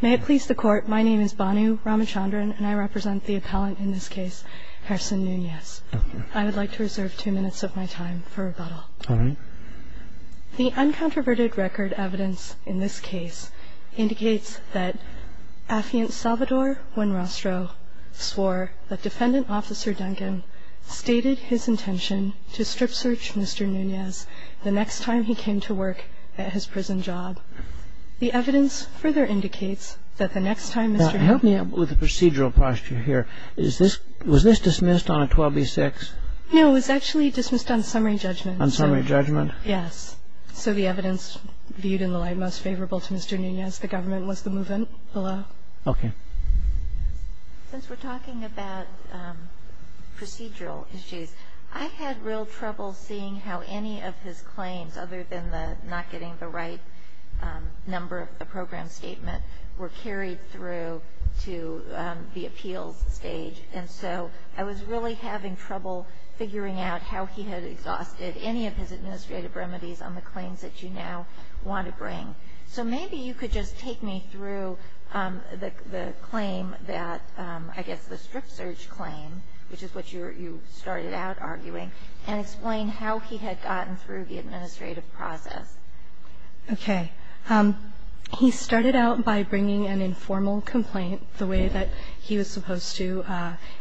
May it please the Court, my name is Bhanu Ramachandran, and I represent the appellant in this case, Harrison Nunez. I would like to reserve two minutes of my time for rebuttal. All right. The uncontroverted record evidence in this case indicates that Affiant Salvador Buenrostro swore that Defendant Officer Duncan stated his intention to strip search Mr. Nunez the next time he came to work at his prison job. The evidence further indicates that the next time Mr. Nunez Now, help me out with the procedural posture here. Was this dismissed on a 12b-6? No, it was actually dismissed on summary judgment. On summary judgment? Yes. So the evidence viewed in the light most favorable to Mr. Nunez, the government was to move the law. Okay. Since we're talking about procedural issues, I had real trouble seeing how any of his claims, other than not getting the right number of the program statement, were carried through to the appeals stage. And so I was really having trouble figuring out how he had exhausted any of his administrative remedies on the claims that you now want to bring. So maybe you could just take me through the claim that, I guess the strip search claim, which is what you started out arguing, and explain how he had gotten through the administrative process. Okay. He started out by bringing an informal complaint the way that he was supposed to.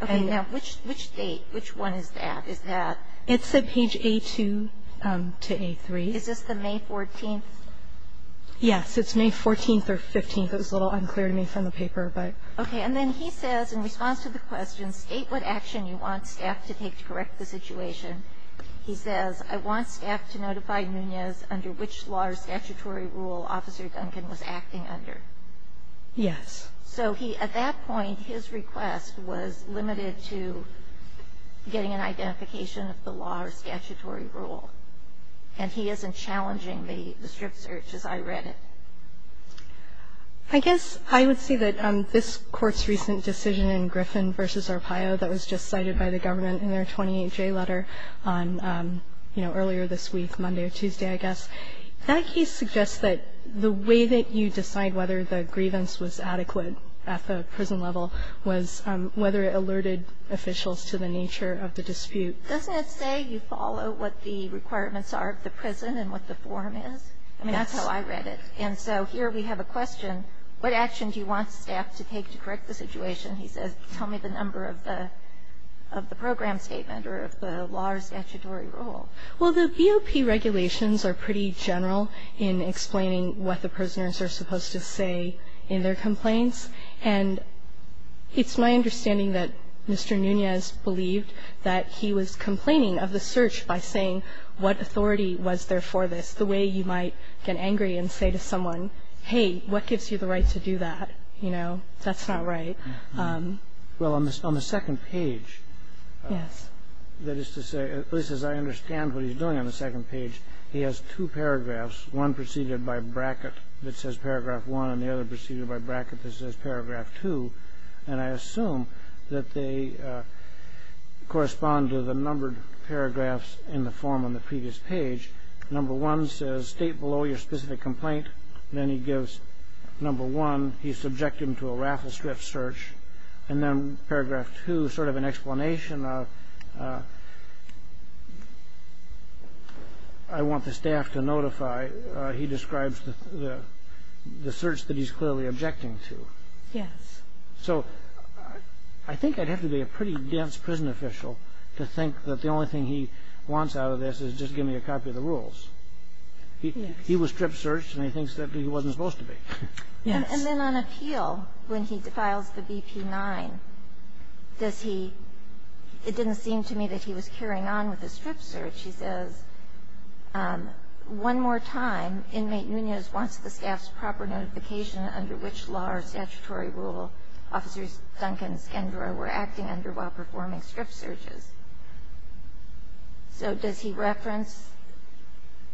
Okay. Now, which date, which one is that? Is that It's at page A2 to A3. Is this the May 14th? Yes. It's May 14th or 15th. It was a little unclear to me from the paper, but. Okay. And then he says, in response to the question, state what action you want staff to take to correct the situation. He says, I want staff to notify Nunez under which law or statutory rule Officer Duncan was acting under. Yes. So he, at that point, his request was limited to getting an identification of the law or statutory rule. And he isn't challenging the strip search as I read it. I guess I would say that this Court's recent decision in Griffin v. Arpaio that was just cited by the government in their 28-J letter on, you know, earlier this week, Monday or Tuesday, I guess, that case suggests that the way that you decide whether the grievance was adequate at the prison level was whether it alerted officials to the nature of the dispute. Doesn't it say you follow what the requirements are of the prison and what the form is? I mean, that's how I read it. And so here we have a question. What action do you want staff to take to correct the situation? He says, tell me the number of the program statement or of the law or statutory rule. Well, the BOP regulations are pretty general in explaining what the prisoners are supposed to say in their complaints. And it's my understanding that Mr. Nunez believed that he was complaining of the search by saying what authority was there for this, the way you might get angry and say to someone, hey, what gives you the right to do that? You know, that's not right. Well, on the second page, that is to say, at least as I understand what he's doing on the second page, he has two paragraphs, one preceded by a bracket that says paragraph 1 and the other preceded by a bracket that says paragraph 2. And I assume that they correspond to the numbered paragraphs in the form on the previous page. Number 1 says state below your specific complaint. Then he gives number 1. He subjected him to a raffle strip search. And then paragraph 2 is sort of an explanation of I want the staff to notify. He describes the search that he's clearly objecting to. Yes. So I think I'd have to be a pretty dense prison official to think that the only thing he wants out of this is just give me a copy of the rules. Yes. He was strip searched, and he thinks that he wasn't supposed to be. Yes. And then on appeal, when he files the BP-9, does he – it didn't seem to me that he was carrying on with the strip search. He says, one more time, inmate Nunez wants the staff's proper notification under which law or statutory rule Officers Duncan and Skendroy were acting under while performing strip searches. So does he reference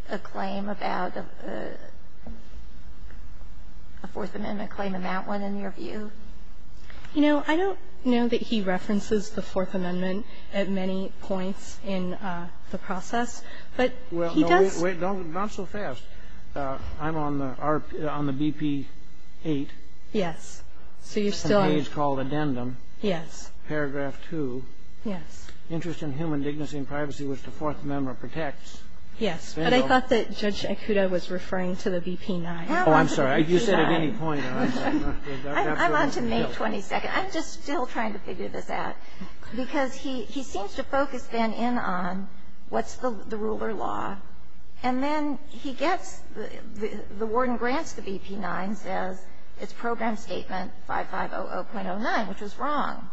a claim about a Fourth Amendment claim in that one in your view? You know, I don't know that he references the Fourth Amendment at many points in the process. But he does – Well, wait. Not so fast. I'm on the BP-8. Yes. So you're still – It's a page called Addendum. Yes. Paragraph 2. Yes. Interest in human dignity and privacy, which the Fourth Amendment protects. Yes. But I thought that Judge Ikuda was referring to the BP-9. Oh, I'm sorry. You said at any point. I'm on to May 22nd. I'm just still trying to figure this out. Because he seems to focus then in on what's the ruler law. And then he gets – the warden grants the BP-9, says it's Program Statement 5500.09, which is wrong.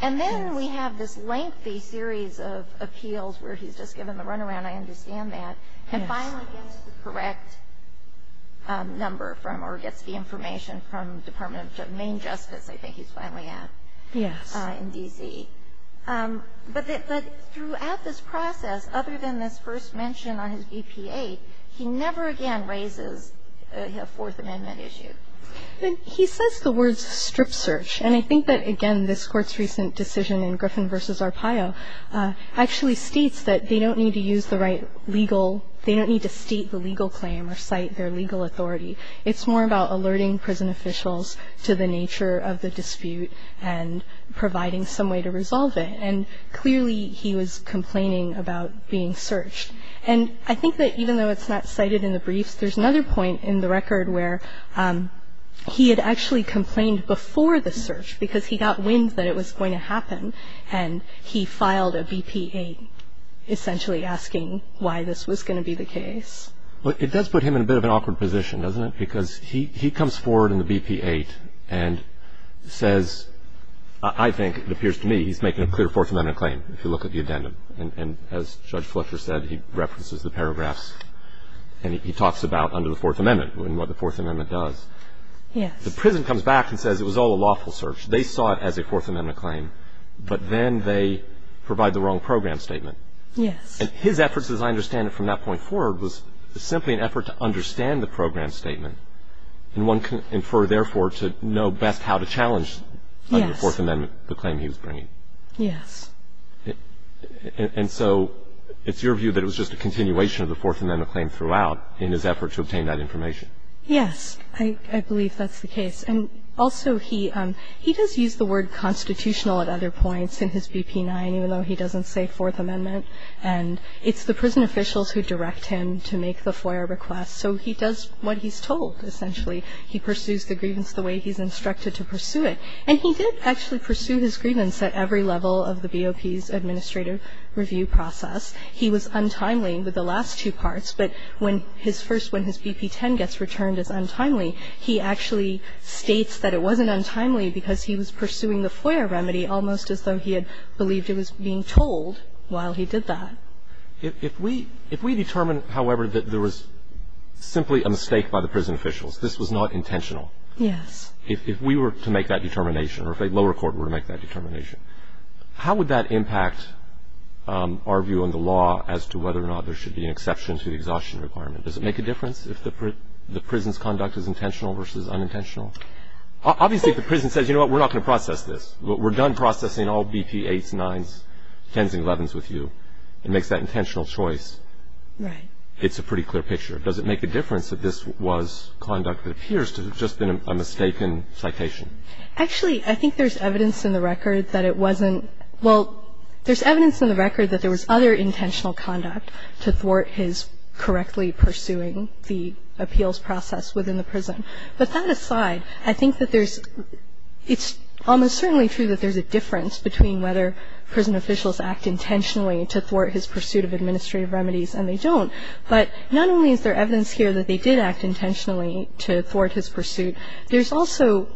And then we have this lengthy series of appeals where he's just given the runaround. I understand that. And finally gets the correct number from or gets the information from Department of Main Justice, I think he's finally at. Yes. In D.C. But throughout this process, other than this first mention on his BP-8, he never again raises a Fourth Amendment issue. He says the words strip search. And I think that, again, this Court's recent decision in Griffin v. Arpaio actually states that they don't need to use the right legal – they don't need to state the legal claim or cite their legal authority. It's more about alerting prison officials to the nature of the dispute and providing some way to resolve it. And clearly he was complaining about being searched. And I think that even though it's not cited in the briefs, there's another point in the record where he had actually complained before the search because he got wind that it was going to happen. And he filed a BP-8 essentially asking why this was going to be the case. Well, it does put him in a bit of an awkward position, doesn't it? Because he comes forward in the BP-8 and says – I think, it appears to me, he's making a clear Fourth Amendment claim if you look at the addendum. And as Judge Fletcher said, he references the paragraphs and he talks about under the Fourth Amendment and what the Fourth Amendment does. Yes. The prison comes back and says it was all a lawful search. They saw it as a Fourth Amendment claim. But then they provide the wrong program statement. Yes. And his efforts, as I understand it from that point forward, was simply an effort to understand the program statement. And one can infer, therefore, to know best how to challenge the Fourth Amendment, the claim he was bringing. Yes. And so it's your view that it was just a continuation of the Fourth Amendment claim throughout in his effort to obtain that information. Yes. I believe that's the case. And also he does use the word constitutional at other points in his BP-9, even though he doesn't say Fourth Amendment. And it's the prison officials who direct him to make the FOIA request. So he does what he's told, essentially. He pursues the grievance the way he's instructed to pursue it. And he did actually pursue his grievance at every level of the BOP's administrative review process. He was untimely with the last two parts. But when his first, when his BP-10 gets returned as untimely, he actually states that it wasn't untimely because he was pursuing the FOIA remedy almost as though he had believed it was being told while he did that. If we determine, however, that there was simply a mistake by the prison officials, this was not intentional. Yes. If we were to make that determination or if a lower court were to make that determination, how would that impact our view on the law as to whether or not there should be an exception to the exhaustion requirement? Does it make a difference if the prison's conduct is intentional versus unintentional? Obviously, if the prison says, you know what, we're not going to process this. We're done processing all BP-8s, 9s, 10s, and 11s with you. It makes that intentional choice. Right. It's a pretty clear picture. Does it make a difference that this was conduct that appears to have just been a mistaken citation? Actually, I think there's evidence in the record that it wasn't. Well, there's evidence in the record that there was other intentional conduct to thwart his correctly pursuing the appeals process within the prison. But that aside, I think that there's – it's almost certainly true that there's a difference between whether prison officials act intentionally to thwart his pursuit of administrative remedies and they don't. But not only is there evidence here that they did act intentionally to thwart his pursuit, there's also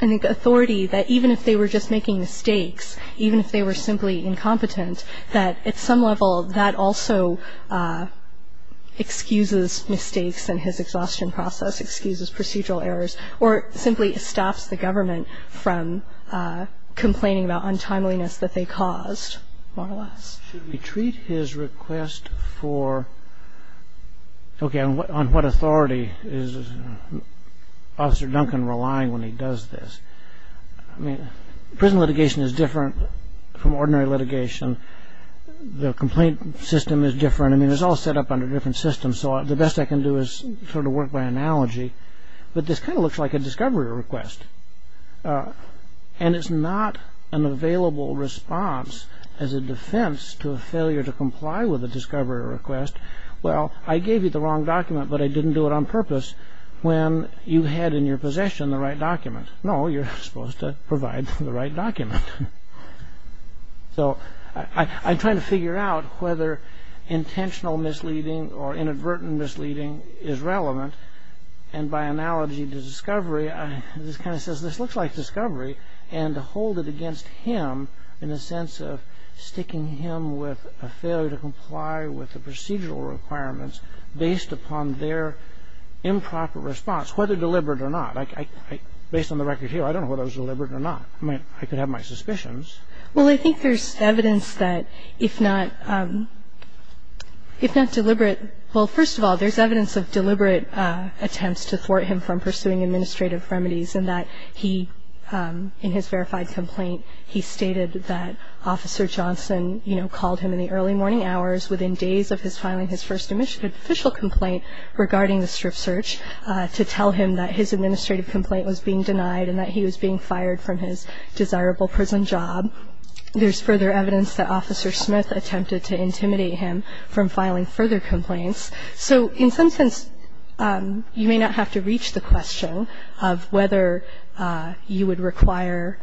an authority that even if they were just making mistakes, even if they were simply incompetent, that at some level that also excuses mistakes and his exhaustion process, excuses procedural errors, or simply stops the government from complaining about untimeliness that they caused, more or less. Should we treat his request for – okay, on what authority is Officer Duncan relying when he does this? I mean, prison litigation is different from ordinary litigation. The complaint system is different. I mean, it's all set up under different systems, so the best I can do is sort of work by analogy. But this kind of looks like a discovery request. And it's not an available response as a defense to a failure to comply with a discovery request. Well, I gave you the wrong document, but I didn't do it on purpose, when you had in your possession the right document. No, you're supposed to provide the right document. So I'm trying to figure out whether intentional misleading or inadvertent misleading is relevant. And by analogy to discovery, this kind of says this looks like discovery, and to hold it against him in the sense of sticking him with a failure to comply with the procedural requirements based upon their improper response, whether deliberate or not. Based on the record here, I don't know whether it was deliberate or not. I mean, I could have my suspicions. Well, I think there's evidence that if not deliberate, well, first of all, there's evidence of deliberate attempts to thwart him from pursuing administrative remedies, and that he, in his verified complaint, he stated that Officer Johnson, you know, called him in the early morning hours within days of his filing his first official complaint regarding the strip search to tell him that his administrative complaint was being denied and that he was being fired from his desirable prison job. There's further evidence that Officer Smith attempted to intimidate him from filing further complaints. So in some sense, you may not have to reach the question of whether you would require,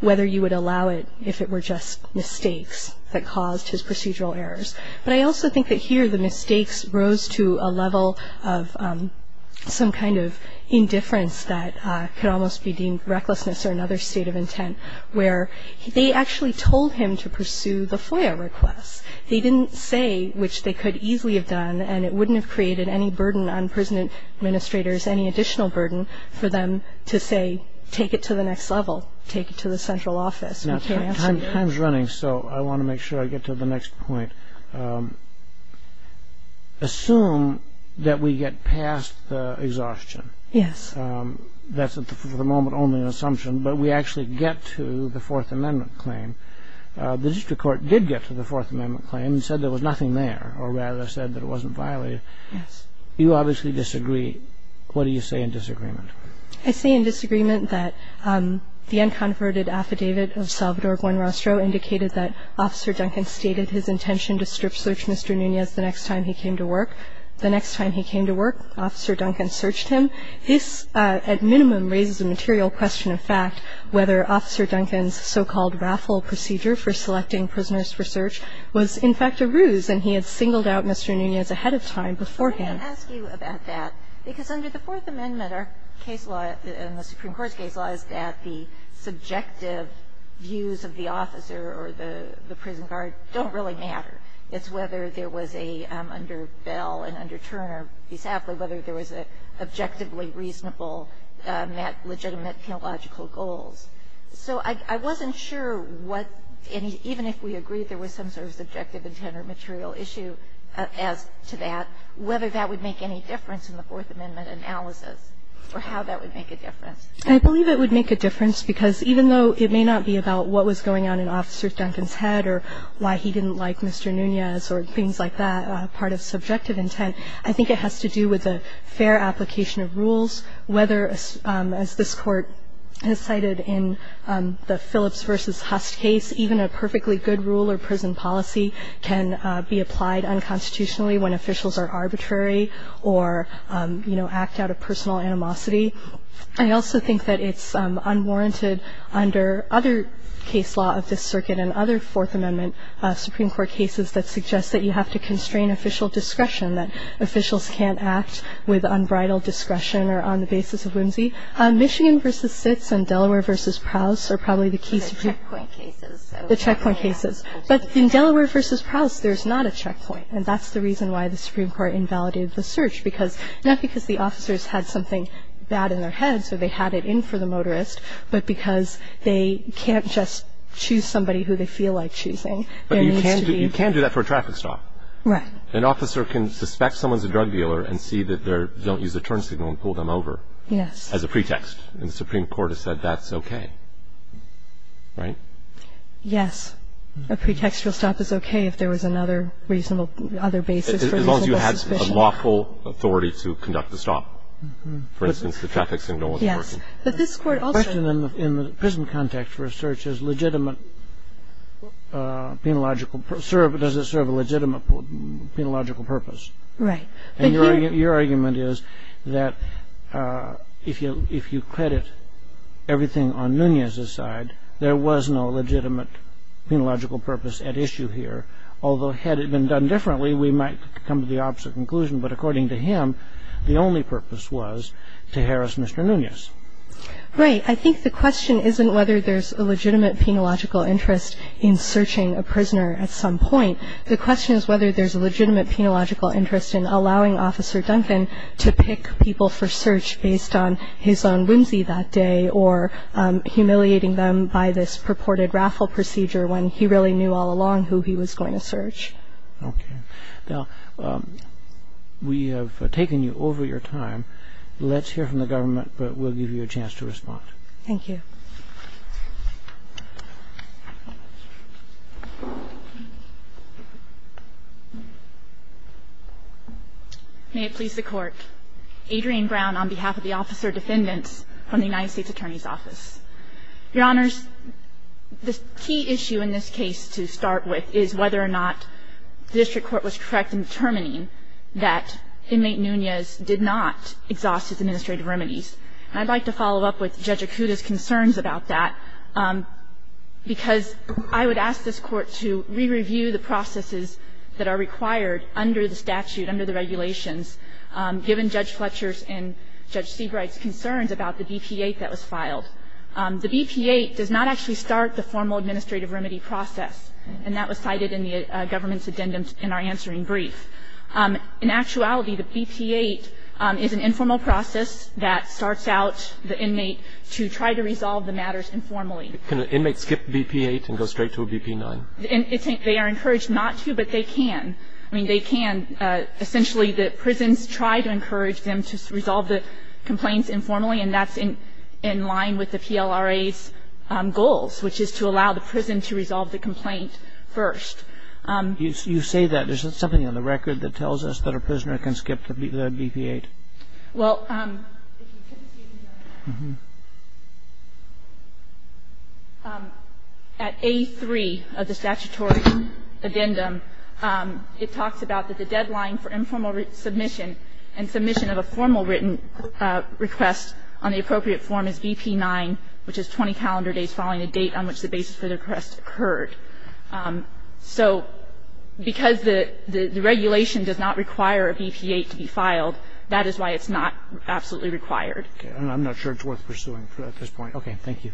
whether you would allow it if it were just mistakes that caused his procedural errors. But I also think that here the mistakes rose to a level of some kind of indifference that could almost be deemed recklessness or another state of intent, where they actually told him to pursue the FOIA request. They didn't say, which they could easily have done, and it wouldn't have created any burden on prison administrators, any additional burden for them to say, take it to the next level, take it to the central office. Time's running, so I want to make sure I get to the next point. Assume that we get past the exhaustion. Yes. That's for the moment only an assumption, but we actually get to the Fourth Amendment claim. The district court did get to the Fourth Amendment claim and said there was nothing there, or rather said that it wasn't violated. Yes. You obviously disagree. What do you say in disagreement? I say in disagreement that the unconverted affidavit of Salvador Buenrostro indicated that Officer Duncan stated his intention to strip search Mr. Nunez the next time he came to work. The next time he came to work, Officer Duncan searched him. This, at minimum, raises a material question of fact, whether Officer Duncan's so-called raffle procedure for selecting prisoners for search was, in fact, a ruse, and he had singled out Mr. Nunez ahead of time, beforehand. Let me ask you about that, because under the Fourth Amendment, our case law and the Supreme Court's case law is that the subjective views of the officer or the prison guard don't really matter. It's whether there was a under Bell and under Turner, whether there was an objectively reasonable legitimate theological goals. So I wasn't sure what any – even if we agreed there was some sort of subjective intent or material issue as to that, whether that would make any difference in the Fourth Amendment analysis or how that would make a difference. I believe it would make a difference, because even though it may not be about what was going on in Officer Duncan's head or why he didn't like Mr. Nunez or things like that, part of subjective intent, I think it has to do with a fair application of rules, whether, as this Court has cited in the Phillips v. Hust case, even a perfectly good rule or prison policy can be applied unconstitutionally when officials are arbitrary or act out of personal animosity. I also think that it's unwarranted under other case law of this Circuit and other Fourth Amendment Supreme Court cases that suggest that you have to constrain official discretion, that officials can't act with unbridled discretion or on the basis of whimsy. Michigan v. Sitz and Delaware v. Prowse are probably the key – The checkpoint cases. The checkpoint cases. But in Delaware v. Prowse, there's not a checkpoint, and that's the reason why the Supreme Court invalidated the search, not because the officers had something bad in their heads or they had it in for the motorist, but because they can't just choose somebody who they feel like choosing. But you can do that for a traffic stop. Right. An officer can suspect someone's a drug dealer and see that they don't use a turn signal and pull them over. Yes. As a pretext. And the Supreme Court has said that's okay. Right? Yes. A pretextual stop is okay if there was another reasonable – other basis for a reasonable suspicion. As long as you had a lawful authority to conduct the stop. For instance, the traffic signal wasn't working. Yes. But this Court also – The question in the prison context for a search is legitimate penological – does it serve a legitimate penological purpose. Right. And your argument is that if you credit everything on Nunez's side, there was no legitimate penological purpose at issue here. Although had it been done differently, we might come to the opposite conclusion. But according to him, the only purpose was to harass Mr. Nunez. Right. I think the question isn't whether there's a legitimate penological interest in searching a prisoner at some point. The question is whether there's a legitimate penological interest in allowing Officer Duncan to pick people for search based on his own whimsy that day or humiliating them by this purported raffle procedure when he really knew all along who he was going to search. Okay. Now, we have taken you over your time. Let's hear from the government, but we'll give you a chance to respond. Thank you. May it please the Court. Adrienne Brown on behalf of the officer defendants from the United States Attorney's Office. Your Honors, the key issue in this case to start with is whether or not the district court was correct in determining that inmate Nunez did not exhaust his administrative remedies. And I'd like to follow up with Judge Acuda's concerns about that, because I would ask this Court to re-review the processes that are required under the statute, under the regulations, given Judge Fletcher's and Judge Seabright's concerns about the BP-8 that was filed. The BP-8 does not actually start the formal administrative remedy process, and that was cited in the government's addendum in our answering brief. In actuality, the BP-8 is an informal process that starts out the inmate to try to resolve the matters informally. Can an inmate skip BP-8 and go straight to a BP-9? They are encouraged not to, but they can. I mean, they can. Essentially, the prisons try to encourage them to resolve the complaints informally, and that's in line with the PLRA's goals, which is to allow the prison to resolve the complaint first. You say that. There's something on the record that tells us that a prisoner can skip the BP-8. Well, at A3 of the statutory addendum, it talks about that the deadline for informal submission and submission of a formal written request on the appropriate form is BP-9, which is 20 calendar days following the date on which the basis for the request occurred. So because the regulation does not require a BP-8 to be filed, that is why it's not absolutely required. Okay. And I'm not sure it's worth pursuing at this point. Okay. Thank you.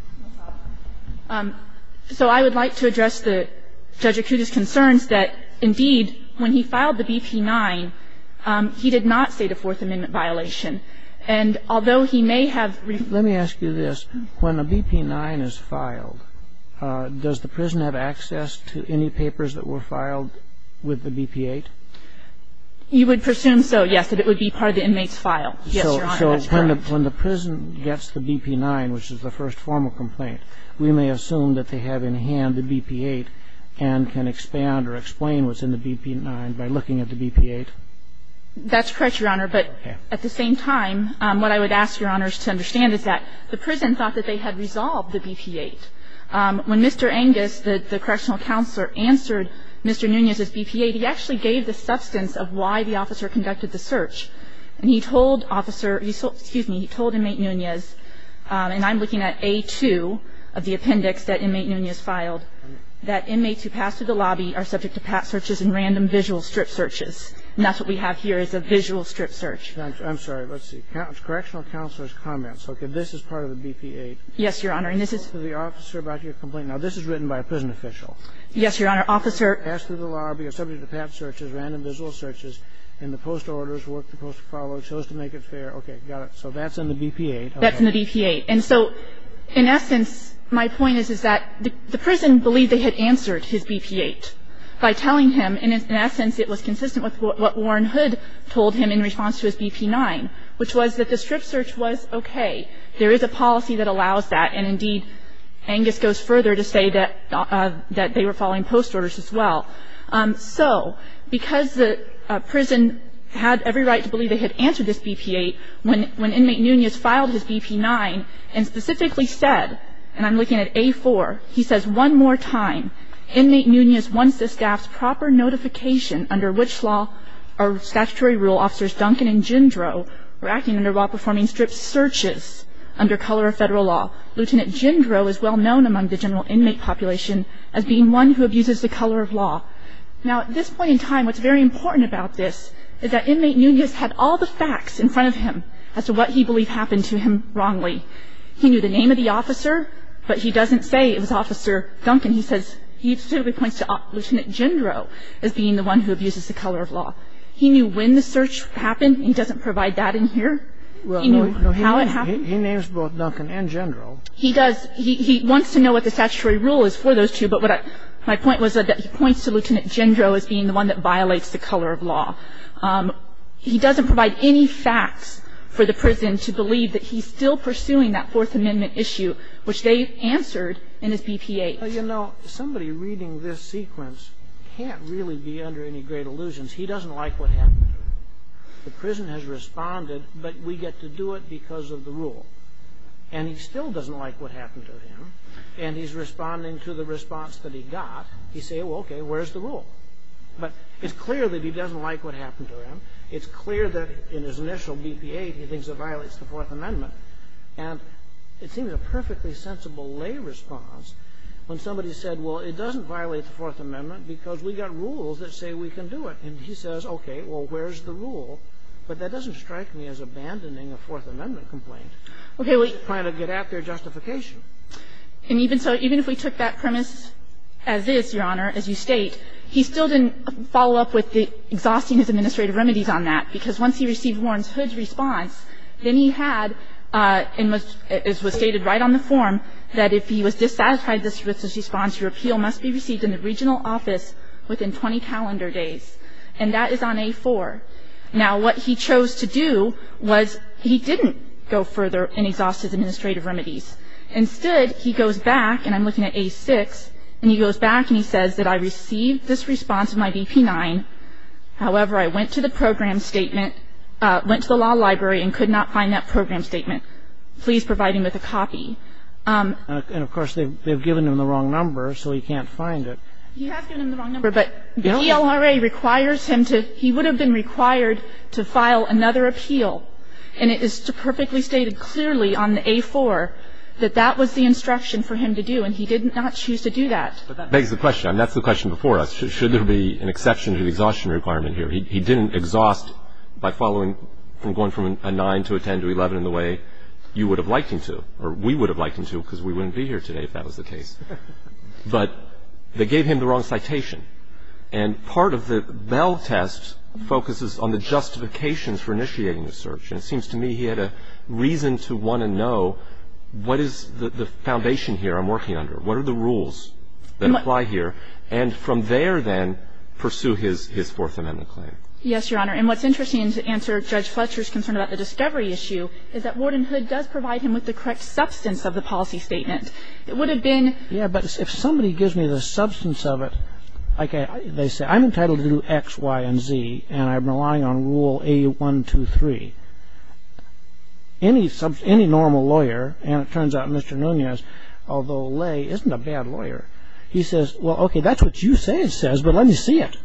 So I would like to address Judge Acuta's concerns that, indeed, when he filed the BP-9, he did not state a Fourth Amendment violation. And although he may have ---- Let me ask you this. When a BP-9 is filed, does the prison have access to any papers that were filed with the BP-8? You would presume so, yes, that it would be part of the inmate's file. Yes, Your Honor. That's correct. So when the prison gets the BP-9, which is the first formal complaint, we may assume that they have in hand the BP-8 and can expand or explain what's in the BP-9 by looking at the BP-8? That's correct, Your Honor. Okay. At the same time, what I would ask Your Honors to understand is that the prison thought that they had resolved the BP-8. When Mr. Angus, the correctional counselor, answered Mr. Nunez's BP-8, he actually gave the substance of why the officer conducted the search. And he told officer ---- excuse me, he told inmate Nunez, and I'm looking at A-2 of the appendix that inmate Nunez filed, that inmates who pass through the lobby are subject to pat searches and random visual strip searches. And that's what we have here is a visual strip search. I'm sorry. Let's see. Correctional counselor's comments. Okay. This is part of the BP-8. Yes, Your Honor. And this is ---- The officer about your complaint. Now, this is written by a prison official. Yes, Your Honor. Officer ---- Passed through the lobby, are subject to pat searches, random visual searches, and the post orders, work to post follow, chose to make it fair. Okay. Got it. So that's in the BP-8. That's in the BP-8. And so in essence, my point is, is that the prison believed they had answered his BP-8 by telling him. And in essence, it was consistent with what Warren Hood told him in response to his BP-9, which was that the strip search was okay. There is a policy that allows that. And indeed, Angus goes further to say that they were following post orders as well. So because the prison had every right to believe they had answered this BP-8, when inmate Nunez filed his BP-9 and specifically said, and I'm looking at A-4, he says one more time, inmate Nunez wants the staff's proper notification under which statutory rule officers Duncan and Jindro were acting under while performing strip searches under color of federal law. Lieutenant Jindro is well known among the general inmate population as being one who abuses the color of law. Now at this point in time, what's very important about this is that inmate Nunez had all the facts in front of him as to what he believed happened to him wrongly. He knew the name of the officer, but he doesn't say it was Officer Duncan. He says he specifically points to Lieutenant Jindro as being the one who abuses the color of law. He knew when the search happened. He doesn't provide that in here. He knew how it happened. He names both Duncan and Jindro. He does. He wants to know what the statutory rule is for those two. But my point was that he points to Lieutenant Jindro as being the one that violates the color of law. He doesn't provide any facts for the prison to believe that he's still pursuing that Fourth Amendment issue, which they answered in his BPA. Well, you know, somebody reading this sequence can't really be under any great illusions. He doesn't like what happened to him. The prison has responded, but we get to do it because of the rule. And he still doesn't like what happened to him, and he's responding to the response that he got. He says, well, okay, where's the rule? But it's clear that he doesn't like what happened to him. It's clear that in his initial BPA, he thinks it violates the Fourth Amendment. And it seems a perfectly sensible lay response when somebody said, well, it doesn't violate the Fourth Amendment because we got rules that say we can do it. And he says, okay, well, where's the rule? But that doesn't strike me as abandoning a Fourth Amendment complaint. He's trying to get at their justification. And even so, even if we took that premise as is, Your Honor, as you state, he still didn't follow up with exhausting his administrative remedies on that because once he received Warren Hood's response, then he had, as was stated right on the form, that if he was dissatisfied with his response, your appeal must be received in the regional office within 20 calendar days. And that is on A4. Now, what he chose to do was he didn't go further and exhaust his administrative remedies. Instead, he goes back, and I'm looking at A6, and he goes back and he says that I received this response in my BP-9. However, I went to the program statement, went to the law library and could not find that program statement. Please provide him with a copy. And, of course, they've given him the wrong number, so he can't find it. He has given him the wrong number, but the ELRA requires him to he would have been required to file another appeal. And it is perfectly stated clearly on the A4 that that was the instruction for him to do, and he did not choose to do that. But that begs the question. I mean, that's the question before us. Should there be an exception to the exhaustion requirement here? He didn't exhaust by following from going from a 9 to a 10 to 11 in the way you would have liked him to, or we would have liked him to because we wouldn't be here today if that was the case. But they gave him the wrong citation. And part of the Bell test focuses on the justifications for initiating a search. And it seems to me he had a reason to want to know what is the foundation here I'm working under? What are the rules that apply here? And from there, then, pursue his Fourth Amendment claim. Yes, Your Honor. And what's interesting to answer Judge Fletcher's concern about the discovery issue is that Wardenhood does provide him with the correct substance of the policy statement. It would have been ---- Yeah, but if somebody gives me the substance of it, like they say, I'm entitled to do X, Y, and Z, and I'm relying on Rule A123, any normal lawyer, and it turns out Mr. Nunez, although Lay isn't a bad lawyer, he says, well, okay, that's what you say it says, but let me see it.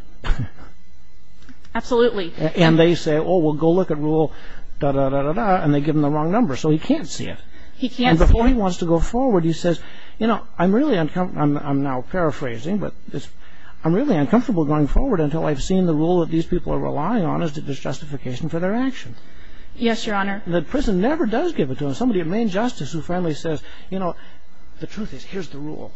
Absolutely. And they say, oh, well, go look at Rule da-da-da-da-da, and they give him the wrong number. So he can't see it. He can't see it. And before he wants to go forward, he says, you know, I'm really uncomfortable I'm now paraphrasing, but I'm really uncomfortable going forward until I've seen the rule that these people are relying on is the justification for their action. Yes, Your Honor. The prison never does give it to him. Somebody at main justice who finally says, you know, the truth is, here's the rule.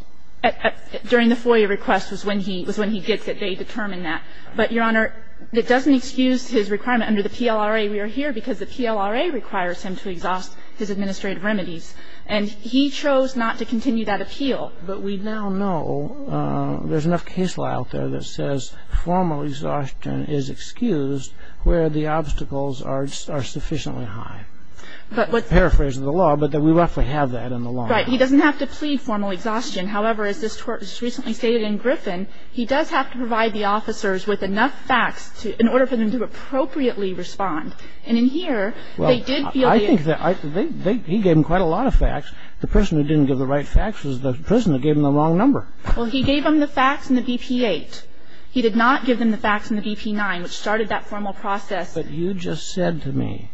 During the FOIA request was when he gets it. They determine that. But, Your Honor, that doesn't excuse his requirement under the PLRA we are here because the PLRA requires him to exhaust his administrative remedies. And he chose not to continue that appeal. But we now know there's enough case law out there that says formal exhaustion is excused where the obstacles are sufficiently high. I'm paraphrasing the law, but we roughly have that in the law. Right. He doesn't have to plead formal exhaustion. However, as this court just recently stated in Griffin, he does have to provide the officers with enough facts in order for them to appropriately respond. And in here, they did feel the... Well, I think he gave them quite a lot of facts. The person who didn't give the right facts was the person who gave them the wrong number. Well, he gave them the facts in the BP-8. He did not give them the facts in the BP-9, which started that formal process. But you just said to me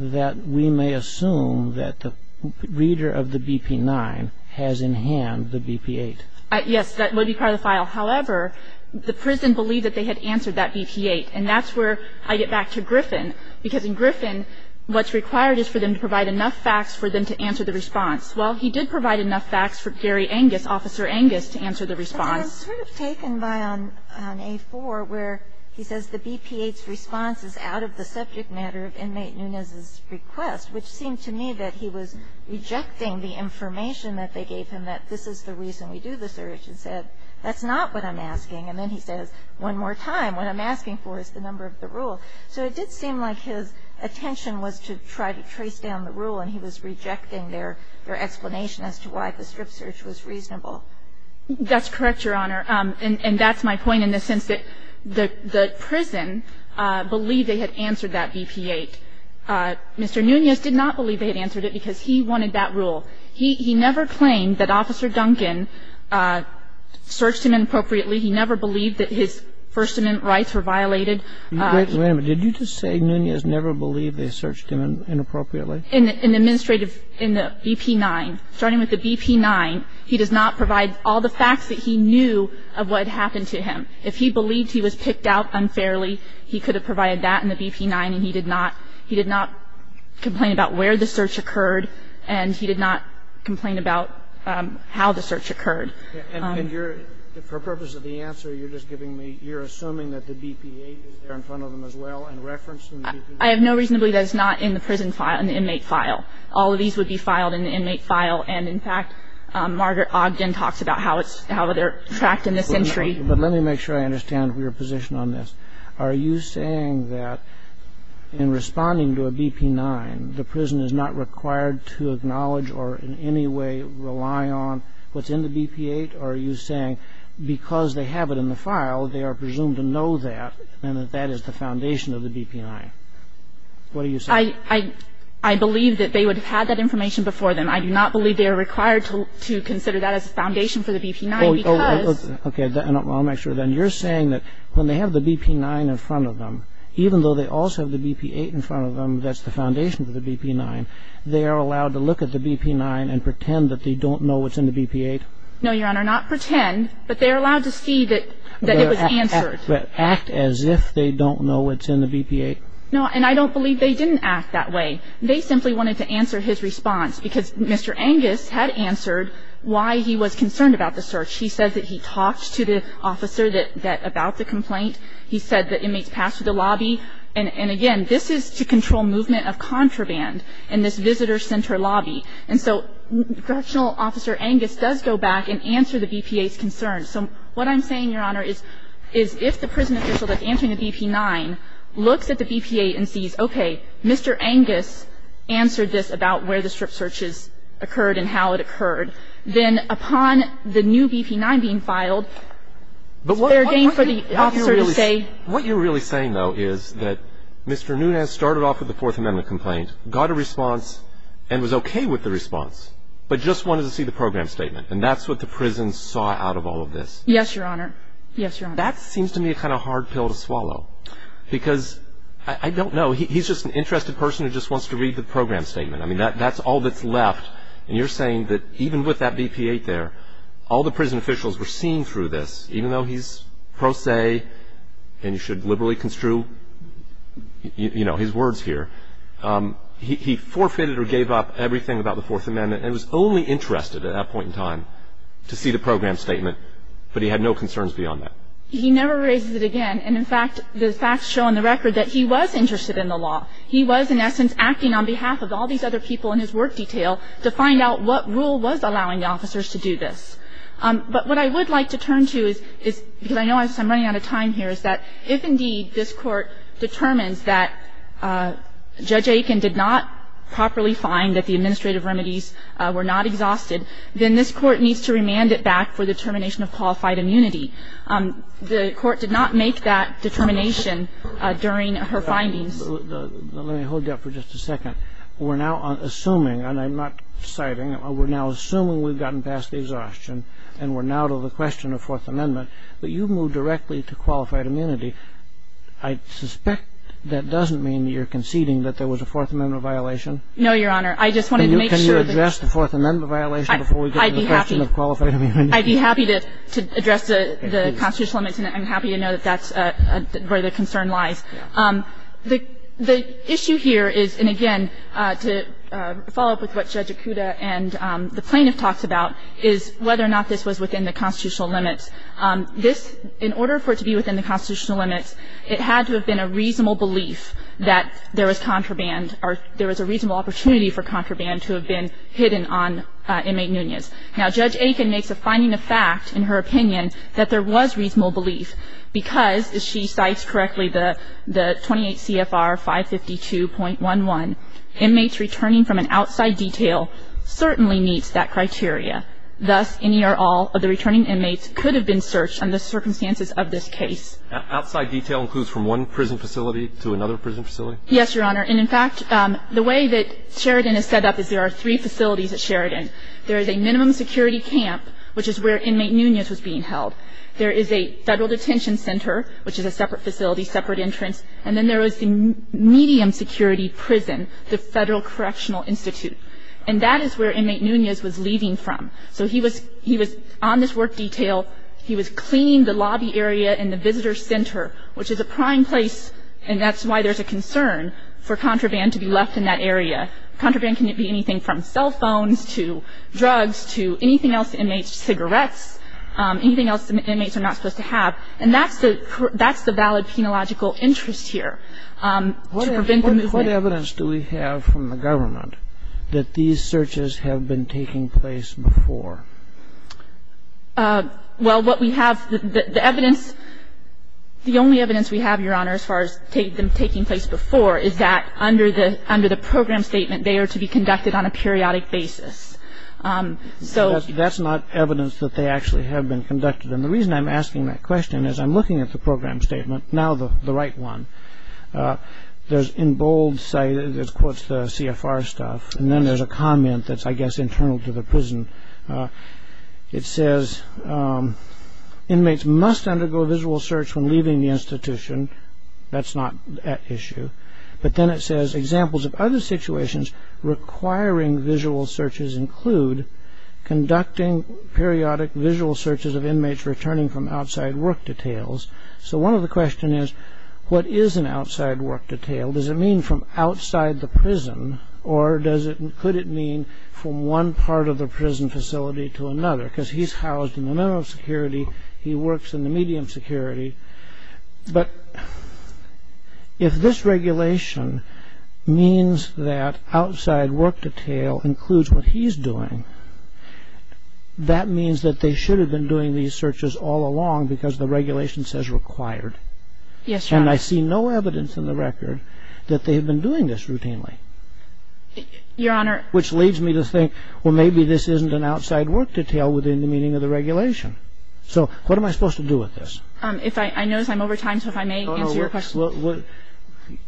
that we may assume that the reader of the BP-9 has in hand the BP-8. Yes. That would be part of the file. However, the prison believed that they had answered that BP-8. And that's where I get back to Griffin. Because in Griffin, what's required is for them to provide enough facts for them to answer the response. Well, he did provide enough facts for Gary Angus, Officer Angus, to answer the response. It was sort of taken by on A-4 where he says the BP-8's response is out of the subject matter of inmate Nunez's request, which seemed to me that he was rejecting the information that they gave him, that this is the reason we do the search, and said, that's not what I'm asking. And then he says, one more time, what I'm asking for is the number of the rule. So it did seem like his attention was to try to trace down the rule, and he was rejecting their explanation as to why the strip search was reasonable. That's correct, Your Honor. And that's my point in the sense that the prison believed they had answered that BP-8. Mr. Nunez did not believe they had answered it because he wanted that rule. He never claimed that Officer Duncan searched him inappropriately. He never believed that his First Amendment rights were violated. Wait a minute. Did you just say Nunez never believed they searched him inappropriately? In the administrative, in the BP-9, starting with the BP-9, he does not provide all the facts that he knew of what had happened to him. If he believed he was picked out unfairly, he could have provided that in the BP-9, and he did not complain about where the search occurred, and he did not complain about how the search occurred. And you're, for purpose of the answer, you're just giving me, you're assuming that the BP-8 is there in front of them as well and referenced in the BP-9? I have no reason to believe that it's not in the prison file, in the inmate file. All of these would be filed in the inmate file, and in fact, Margaret Ogden talks about how it's, how they're tracked in this entry. But let me make sure I understand your position on this. Are you saying that in responding to a BP-9, the prison is not required to acknowledge or in any way rely on what's in the BP-8? Or are you saying because they have it in the file, they are presumed to know that and that that is the foundation of the BP-9? What are you saying? I believe that they would have had that information before them. I do not believe they are required to consider that as a foundation for the BP-9 because Okay. I'll make sure then. You're saying that when they have the BP-9 in front of them, even though they also have the BP-8 in front of them, that's the foundation for the BP-9, they are allowed to look at the BP-9 and pretend that they don't know what's in the BP-8? No, Your Honor, not pretend, but they are allowed to see that it was answered. But act as if they don't know what's in the BP-8? No, and I don't believe they didn't act that way. They simply wanted to answer his response because Mr. Angus had answered why he was concerned about the search. He said that he talked to the officer about the complaint. He said that inmates passed through the lobby. And again, this is to control movement of contraband in this visitor center lobby. And so, Congressional Officer Angus does go back and answer the BP-8's concerns. So what I'm saying, Your Honor, is if the prison official that's answering the BP-9 looks at the BP-8 and sees, okay, Mr. Angus answered this about where the strip searches occurred and how it occurred, then upon the new BP-9 being filed, it's fair game for the officer to say. But what you're really saying, though, is that Mr. Nunez started off with the Fourth Amendment complaint, got a response, and was okay with the response, but just wanted to see the program statement. And that's what the prison saw out of all of this. Yes, Your Honor. Yes, Your Honor. That seems to me a kind of hard pill to swallow because I don't know. He's just an interested person who just wants to read the program statement. I mean, that's all that's left. And you're saying that even with that BP-8 there, all the prison officials were seen through this, even though he's pro se and you should liberally construe, you know, his words here. He forfeited or gave up everything about the Fourth Amendment and was only interested at that point in time to see the program statement, but he had no concerns beyond that. He never raises it again. And, in fact, the facts show on the record that he was interested in the law. He was, in essence, acting on behalf of all these other people in his work detail to find out what rule was allowing the officers to do this. But what I would like to turn to is, because I know I'm running out of time here, is that if, indeed, this Court determines that Judge Aiken did not properly find that the administrative remedies were not exhausted, then this Court needs to remand it back for the termination of qualified immunity. The Court did not make that determination during her findings. Let me hold you up for just a second. We're now assuming, and I'm not citing, we're now assuming we've gotten past the exhaustion and we're now to the question of Fourth Amendment, but you've moved directly to qualified immunity. I suspect that doesn't mean that you're conceding that there was a Fourth Amendment violation. No, Your Honor. I just wanted to make sure. Can you address the Fourth Amendment violation before we get to the question of qualified immunity? I'd be happy to address the constitutional limits, and I'm happy to know that that's where the concern lies. The issue here is, and again, to follow up with what Judge Akuta and the plaintiff talked about, is whether or not this was within the constitutional limits. This, in order for it to be within the constitutional limits, it had to have been a reasonable belief that there was contraband or there was a reasonable opportunity for contraband to have been hidden on inmate Nunez. Now, Judge Akin makes a finding of fact in her opinion that there was reasonable belief because, as she cites correctly, the 28 CFR 552.11, inmates returning from an outside detail certainly meets that criteria. Thus, any or all of the returning inmates could have been searched under the circumstances of this case. Outside detail includes from one prison facility to another prison facility? Yes, Your Honor. And, in fact, the way that Sheridan is set up is there are three facilities at Sheridan. There is a minimum security camp, which is where inmate Nunez was being held. There is a federal detention center, which is a separate facility, separate entrance. And then there is the medium security prison, the Federal Correctional Institute. And that is where inmate Nunez was leaving from. So he was on this work detail. He was cleaning the lobby area and the visitor center, which is a prime place, and that's why there's a concern for contraband to be left in that area. Contraband can be anything from cell phones to drugs to anything else inmates, cigarettes, anything else inmates are not supposed to have. And that's the valid penological interest here, to prevent the movement. What evidence do we have from the government that these searches have been taking place before? Well, what we have, the evidence, the only evidence we have, Your Honor, as far as them taking place before is that under the program statement, they are to be conducted on a periodic basis. So that's not evidence that they actually have been conducted. And the reason I'm asking that question is I'm looking at the program statement, now the right one. There's in bold, it quotes the CFR stuff, and then there's a comment that's, I guess, internal to the prison. It says, inmates must undergo visual search when leaving the institution. That's not at issue. But then it says, examples of other situations requiring visual searches include conducting periodic visual searches of inmates returning from outside work details. So one of the questions is, what is an outside work detail? Does it mean from outside the prison? Or could it mean from one part of the prison facility to another? Because he's housed in the minimum security. He works in the medium security. But if this regulation means that outside work detail includes what he's doing, that means that they should have been doing these searches all along because the regulation says required. Yes, Your Honor. And I see no evidence in the record that they have been doing this routinely. Your Honor. Which leads me to think, well, maybe this isn't an outside work detail within the meaning of the regulation. So what am I supposed to do with this? I notice I'm over time, so if I may answer your question.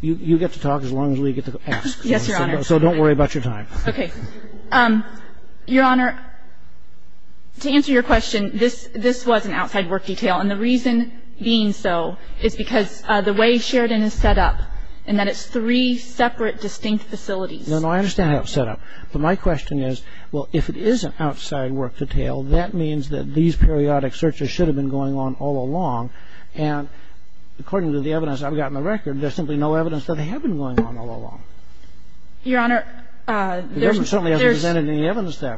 You get to talk as long as we get to ask. Yes, Your Honor. So don't worry about your time. Okay. Your Honor, to answer your question, this was an outside work detail. And the reason being so is because the way Sheridan is set up and that it's three separate distinct facilities. No, no. I understand how it's set up. But my question is, well, if it is an outside work detail, that means that these periodic searches should have been going on all along. And according to the evidence I've got in the record, there's simply no evidence that they have been going on all along. Your Honor, there's no evidence that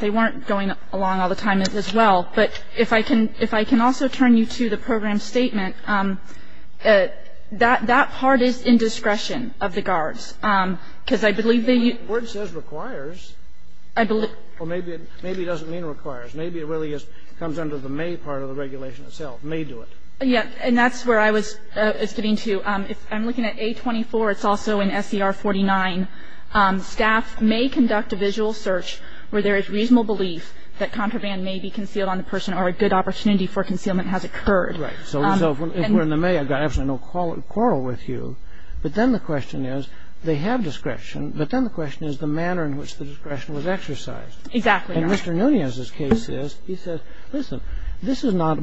they weren't going along all the time as well. But if I can also turn you to the program statement, that part is in discretion of the guards, because I believe they use the word. The word says requires. I believe. Well, maybe it doesn't mean requires. Maybe it really just comes under the may part of the regulation itself, may do it. Yes, and that's where I was getting to. I'm looking at A24. It's also in SCR 49. Staff may conduct a visual search where there is reasonable belief that contraband may be concealed on the person or a good opportunity for concealment has occurred. Right. So if we're in the may, I've got absolutely no quarrel with you. But then the question is, they have discretion. But then the question is the manner in which the discretion was exercised. Exactly, Your Honor. And Mr. Nunez's case is, he says, listen, this is not,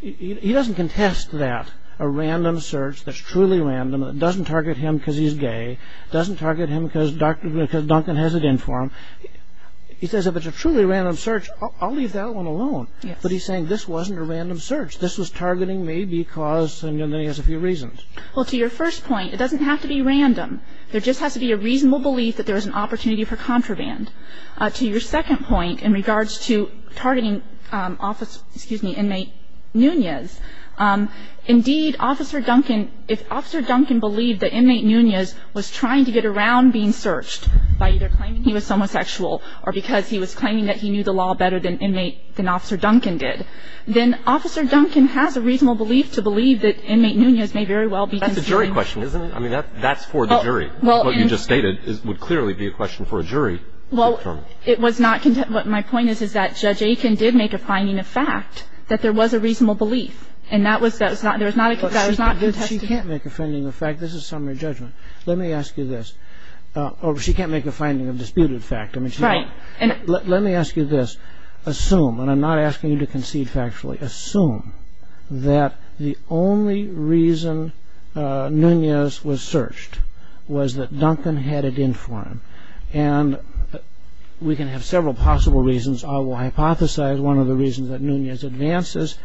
he doesn't contest that, a random search that's truly random, that doesn't target him because he's gay, doesn't target him because Duncan has it in for him. He says if it's a truly random search, I'll leave that one alone. Yes. But he's saying this wasn't a random search. This was targeting me because, and then he has a few reasons. Well, to your first point, it doesn't have to be random. There just has to be a reasonable belief that there is an opportunity for contraband. To your second point in regards to targeting office, excuse me, inmate Nunez, indeed, Officer Duncan, if Officer Duncan believed that inmate Nunez was trying to get around being searched by either claiming he was homosexual or because he was claiming that he knew the law better than inmate, than Officer Duncan did, then Officer Duncan has a reasonable belief to believe that inmate Nunez may very well be considering. That's a jury question, isn't it? I mean, that's for the jury. What you just stated would clearly be a question for a jury. Well, it was not, what my point is, is that Judge Aiken did make a finding of fact that there was a reasonable belief. And that was, that was not, that was not contested. She can't make a finding of fact. This is summary judgment. Let me ask you this. She can't make a finding of disputed fact. Let me ask you this. Assume, and I'm not asking you to concede factually. Assume that the only reason Nunez was searched was that Duncan had it in for him. And we can have several possible reasons. I will hypothesize one of the reasons that Nunez advances. I will hypothesize one of the reasons that Nunez advances.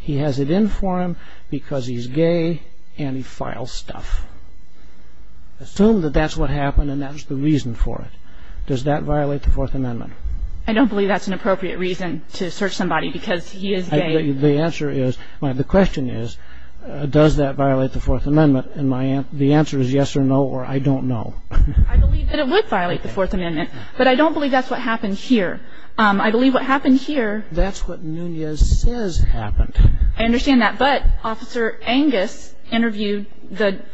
He has it in for him because he's gay and he files stuff. Assume that that's what happened and that's the reason for it. Does that violate the Fourth Amendment? I don't believe that's an appropriate reason to search somebody because he is gay. The answer is, the question is, does that violate the Fourth Amendment? And the answer is yes or no or I don't know. I believe that it would violate the Fourth Amendment. But I don't believe that's what happened here. I believe what happened here. That's what Nunez says happened. I understand that. But Officer Angus interviewed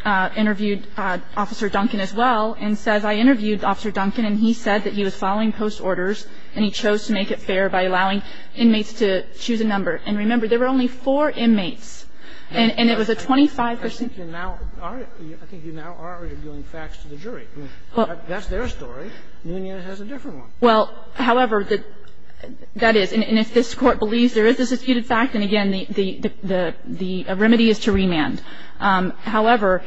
Officer Duncan as well and says, I interviewed Officer Duncan and he said that he was following post orders and he chose to make it fair by allowing inmates to choose a number. And remember, there were only four inmates and it was a 25 percent. I think you now are arguing facts to the jury. That's their story. Nunez has a different one. Well, however, that is. And if this Court believes there is a disputed fact, then again, the remedy is to remand. However,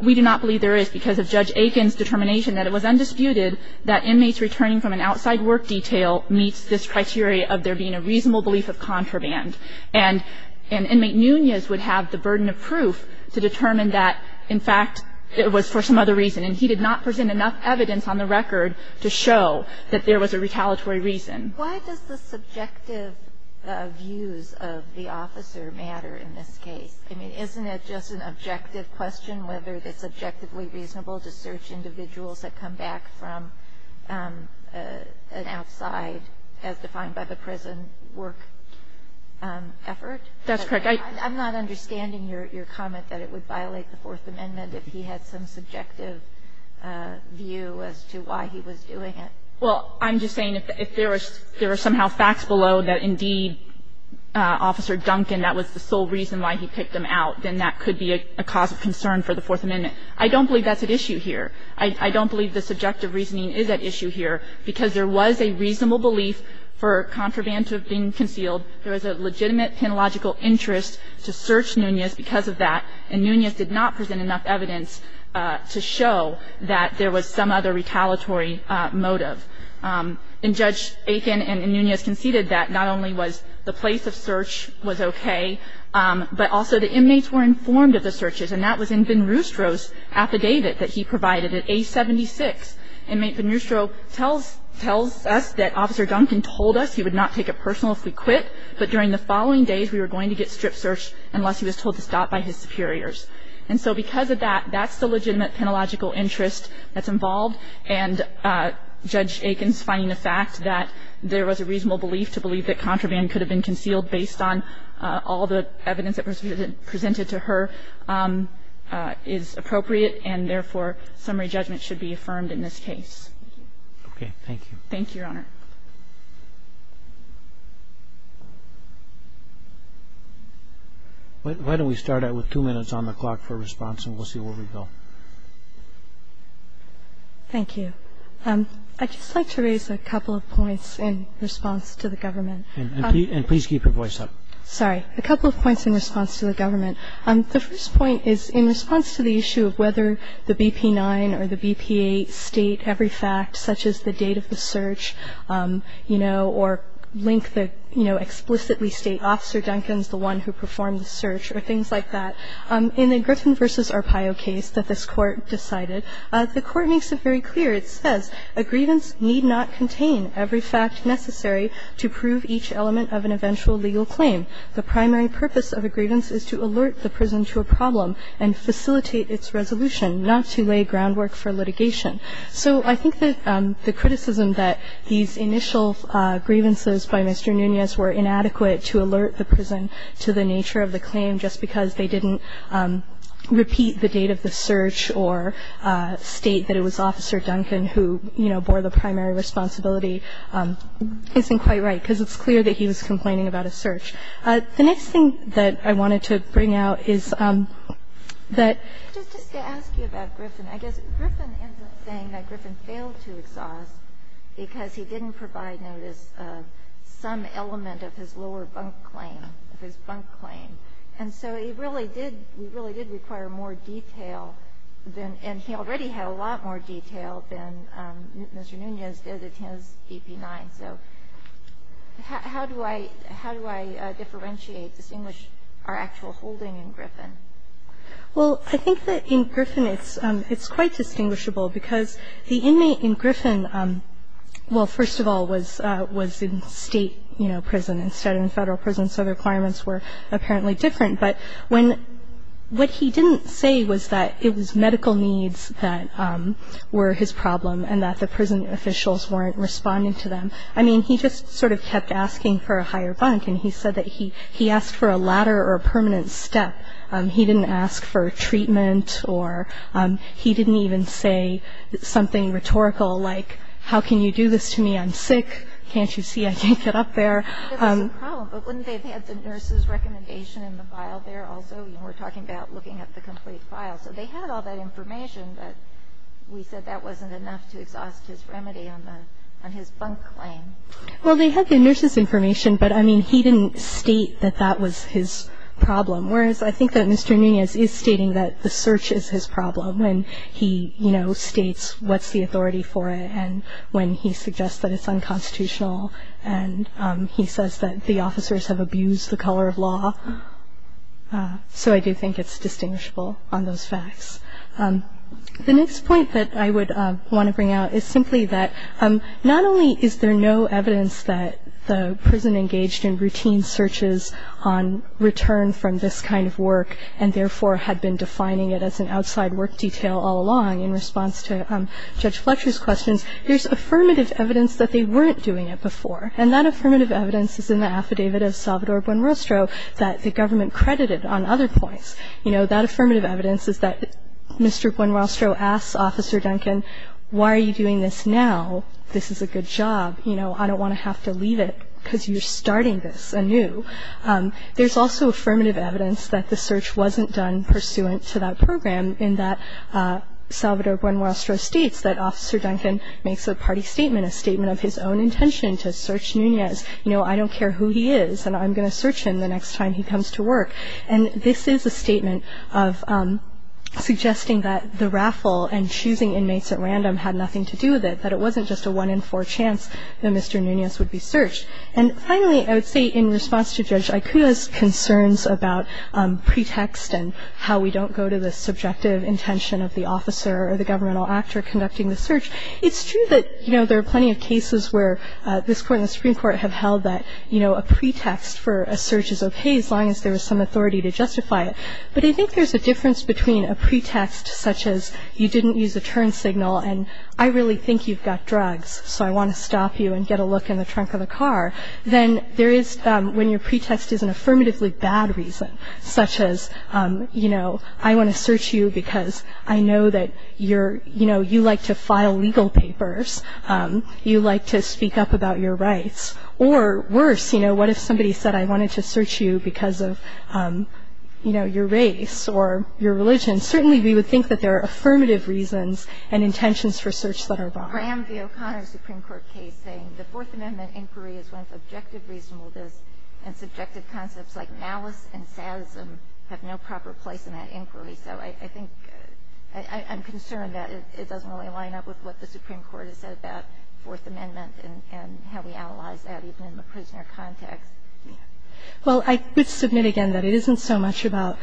we do not believe there is because of Judge Aiken's determination that it was undisputed that inmates returning from an outside work detail meets this criteria of there being a reasonable belief of contraband. And inmate Nunez would have the burden of proof to determine that, in fact, it was for some other reason, and he did not present enough evidence on the record to show that there was a retaliatory reason. Why does the subjective views of the officer matter in this case? I mean, isn't it just an objective question whether it's objectively reasonable to search individuals that come back from an outside, as defined by the prison, work effort? That's correct. I'm not understanding your comment that it would violate the Fourth Amendment if he had some subjective view as to why he was doing it. Well, I'm just saying if there was somehow facts below that, indeed, Officer Duncan, that was the sole reason why he picked them out, then that could be a cause of concern for the Fourth Amendment. I don't believe that's at issue here. I don't believe the subjective reasoning is at issue here because there was a reasonable belief for contraband to have been concealed. There was a legitimate penological interest to search Nunez because of that, and Nunez did not present enough evidence to show that there was some other retaliatory motive. And Judge Aiken and Nunez conceded that not only was the place of search was okay, but also the inmates were informed of the searches, and that was in Ben-Rustro's affidavit that he provided at age 76. Inmate Ben-Rustro tells us that Officer Duncan told us he would not take it personal if we quit, but during the following days, we were going to get strip searched unless he was told to stop by his superiors. And so because of that, that's the legitimate penological interest that's involved, and Judge Aiken's finding the fact that there was a reasonable belief to believe that contraband could have been concealed based on all the evidence that was presented to her is appropriate, and therefore, summary judgment should be affirmed in this case. Roberts. Thank you. Thank you, Your Honor. Why don't we start out with two minutes on the clock for response, and we'll see where we go. Thank you. I'd just like to raise a couple of points in response to the government. And please keep your voice up. Sorry. A couple of points in response to the government. The first point is in response to the issue of whether the BP-9 or the BP-8 state every fact, such as the date of the search, or link the explicitly state Officer Duncan's the one who performed the search, or things like that. In the Griffin v. Arpaio case that this Court decided, the Court makes it very clear. It says, A grievance need not contain every fact necessary to prove each element of an eventual legal claim. The primary purpose of a grievance is to alert the prison to a problem and facilitate its resolution, not to lay groundwork for litigation. So I think that the criticism that these initial grievances by Mr. Nunez were inadequate to alert the prison to the nature of the claim just because they didn't repeat the date of the search or state that it was Officer Duncan who, you know, bore the primary responsibility, isn't quite right, because it's clear that he was complaining about a search. The next thing that I wanted to bring out is that — I was saying that Griffin failed to exhaust because he didn't provide notice of some element of his lower bunk claim, of his bunk claim. And so he really did — he really did require more detail than — and he already had a lot more detail than Mr. Nunez did in his BP-9. So how do I — how do I differentiate, distinguish our actual holding in Griffin? Well, I think that in Griffin it's — it's quite distinguishable because the inmate in Griffin, well, first of all, was — was in State, you know, prison instead of in Federal prison, so the requirements were apparently different. But when — what he didn't say was that it was medical needs that were his problem and that the prison officials weren't responding to them. I mean, he just sort of kept asking for a higher bunk, and he said that he asked for a ladder or a permanent step. He didn't ask for treatment or — he didn't even say something rhetorical like, how can you do this to me? I'm sick. Can't you see I can't get up there? It was a problem, but wouldn't they have had the nurse's recommendation in the file there also? You know, we're talking about looking at the complete file. So they had all that information, but we said that wasn't enough to exhaust his remedy on the — on his bunk claim. Well, they had the nurse's information, but, I mean, he didn't state that that was his problem, whereas I think that Mr. Nunez is stating that the search is his problem when he, you know, states what's the authority for it and when he suggests that it's unconstitutional and he says that the officers have abused the color of law. So I do think it's distinguishable on those facts. The next point that I would want to bring out is simply that not only is there no evidence that the prison engaged in routine searches on return from this kind of work and therefore had been defining it as an outside work detail all along in response to Judge Fletcher's questions, there's affirmative evidence that they weren't doing it before. And that affirmative evidence is in the affidavit of Salvador Buenrostro that the government credited on other points. You know, that affirmative evidence is that Mr. Buenrostro asks Officer Duncan, why are you doing this now? This is a good job. You know, I don't want to have to leave it because you're starting this anew. There's also affirmative evidence that the search wasn't done pursuant to that program in that Salvador Buenrostro states that Officer Duncan makes a party statement, a statement of his own intention to search Nunez. You know, I don't care who he is and I'm going to search him the next time he comes to work. And this is a statement of suggesting that the raffle and choosing inmates at random had nothing to do with it, that it wasn't just a one-in-four chance that Mr. Nunez would be searched. And finally, I would say in response to Judge Aicuda's concerns about pretext and how we don't go to the subjective intention of the officer or the governmental actor conducting the search, it's true that, you know, there are plenty of cases where this Court and the Supreme Court have held that, you know, a pretext for a search is okay as long as there is some authority to justify it. But I think there's a difference between a pretext such as you didn't use a turn signal and I really think you've got drugs, so I want to stop you and get a look in the trunk of the car, than there is when your pretext is an affirmatively bad reason, such as, you know, I want to search you because I know that you're, you know, you like to file legal papers, you like to speak up about your rights. Or worse, you know, what if somebody said I wanted to search you because of, you know, your race or your religion? Certainly, we would think that there are affirmative reasons and intentions for search that are wrong. Kagan. The O'Connor Supreme Court case saying the Fourth Amendment inquiry is one of subjective reasonableness and subjective concepts like malice and sadism have no proper place in that inquiry. So I think I'm concerned that it doesn't really line up with what the Supreme Court has said about the Fourth Amendment and how we analyze that even in the prisoner context. Well, I would submit again that it isn't so much about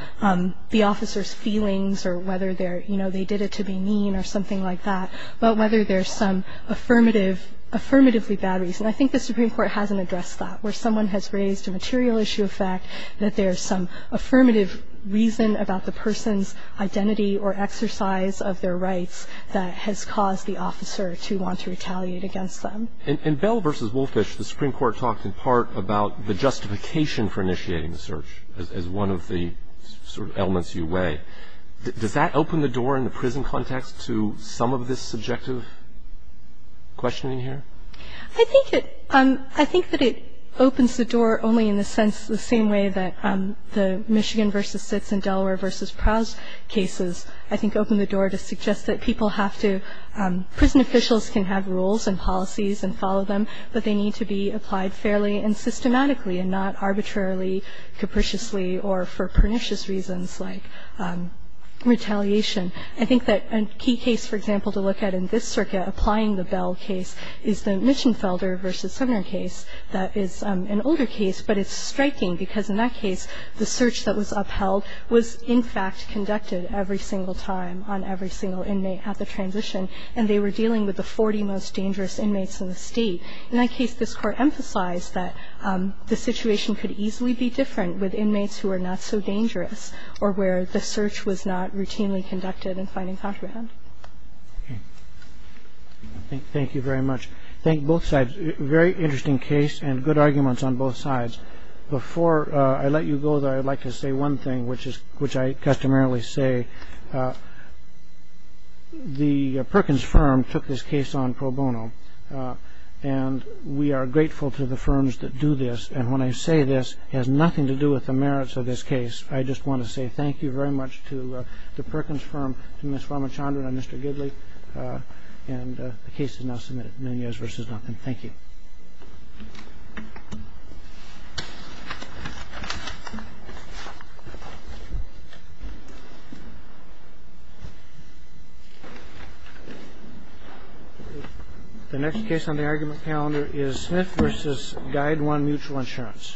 the officer's feelings or whether, you know, they did it to be mean or something like that, but whether there's some affirmatively bad reason. I think the Supreme Court hasn't addressed that, where someone has raised a material issue of fact that there's some affirmative reason about the person's identity or exercise of their rights that has caused the officer to want to retaliate against them. And Bell v. Wolfish, the Supreme Court talked in part about the justification for initiating the search as one of the sort of elements you weigh. Does that open the door in the prison context to some of this subjective questioning here? I think that it opens the door only in the sense, the same way that the Michigan v. Sitz and Delaware v. Prowse cases, I think open the door to suggest that people have to, prison officials can have rules and policies and follow them, but they need to be applied fairly and systematically and not arbitrarily, capriciously or for pernicious reasons like retaliation. I think that a key case, for example, to look at in this circuit applying the Bell case is the Mischenfelder v. Sumner case. That is an older case, but it's striking because in that case, the search that was upheld was, in fact, conducted every single time on every single inmate at the transition, and they were dealing with the 40 most dangerous inmates in the state. In that case, this Court emphasized that the situation could easily be different with inmates who are not so dangerous or where the search was not routinely conducted and finding contraband. Okay. Thank you very much. Thank both sides. Very interesting case and good arguments on both sides. Before I let you go there, I'd like to say one thing, which I customarily say the Perkins firm took this case on pro bono, and we are grateful to the firms that do this, and when I say this has nothing to do with the merits of this case. I just want to say thank you very much to the Perkins firm, to Ms. Farmachandra and Mr. Gidley, and the case is now submitted. Thank you. The next case on the argument calendar is Smith v. Guide One Mutual Insurance.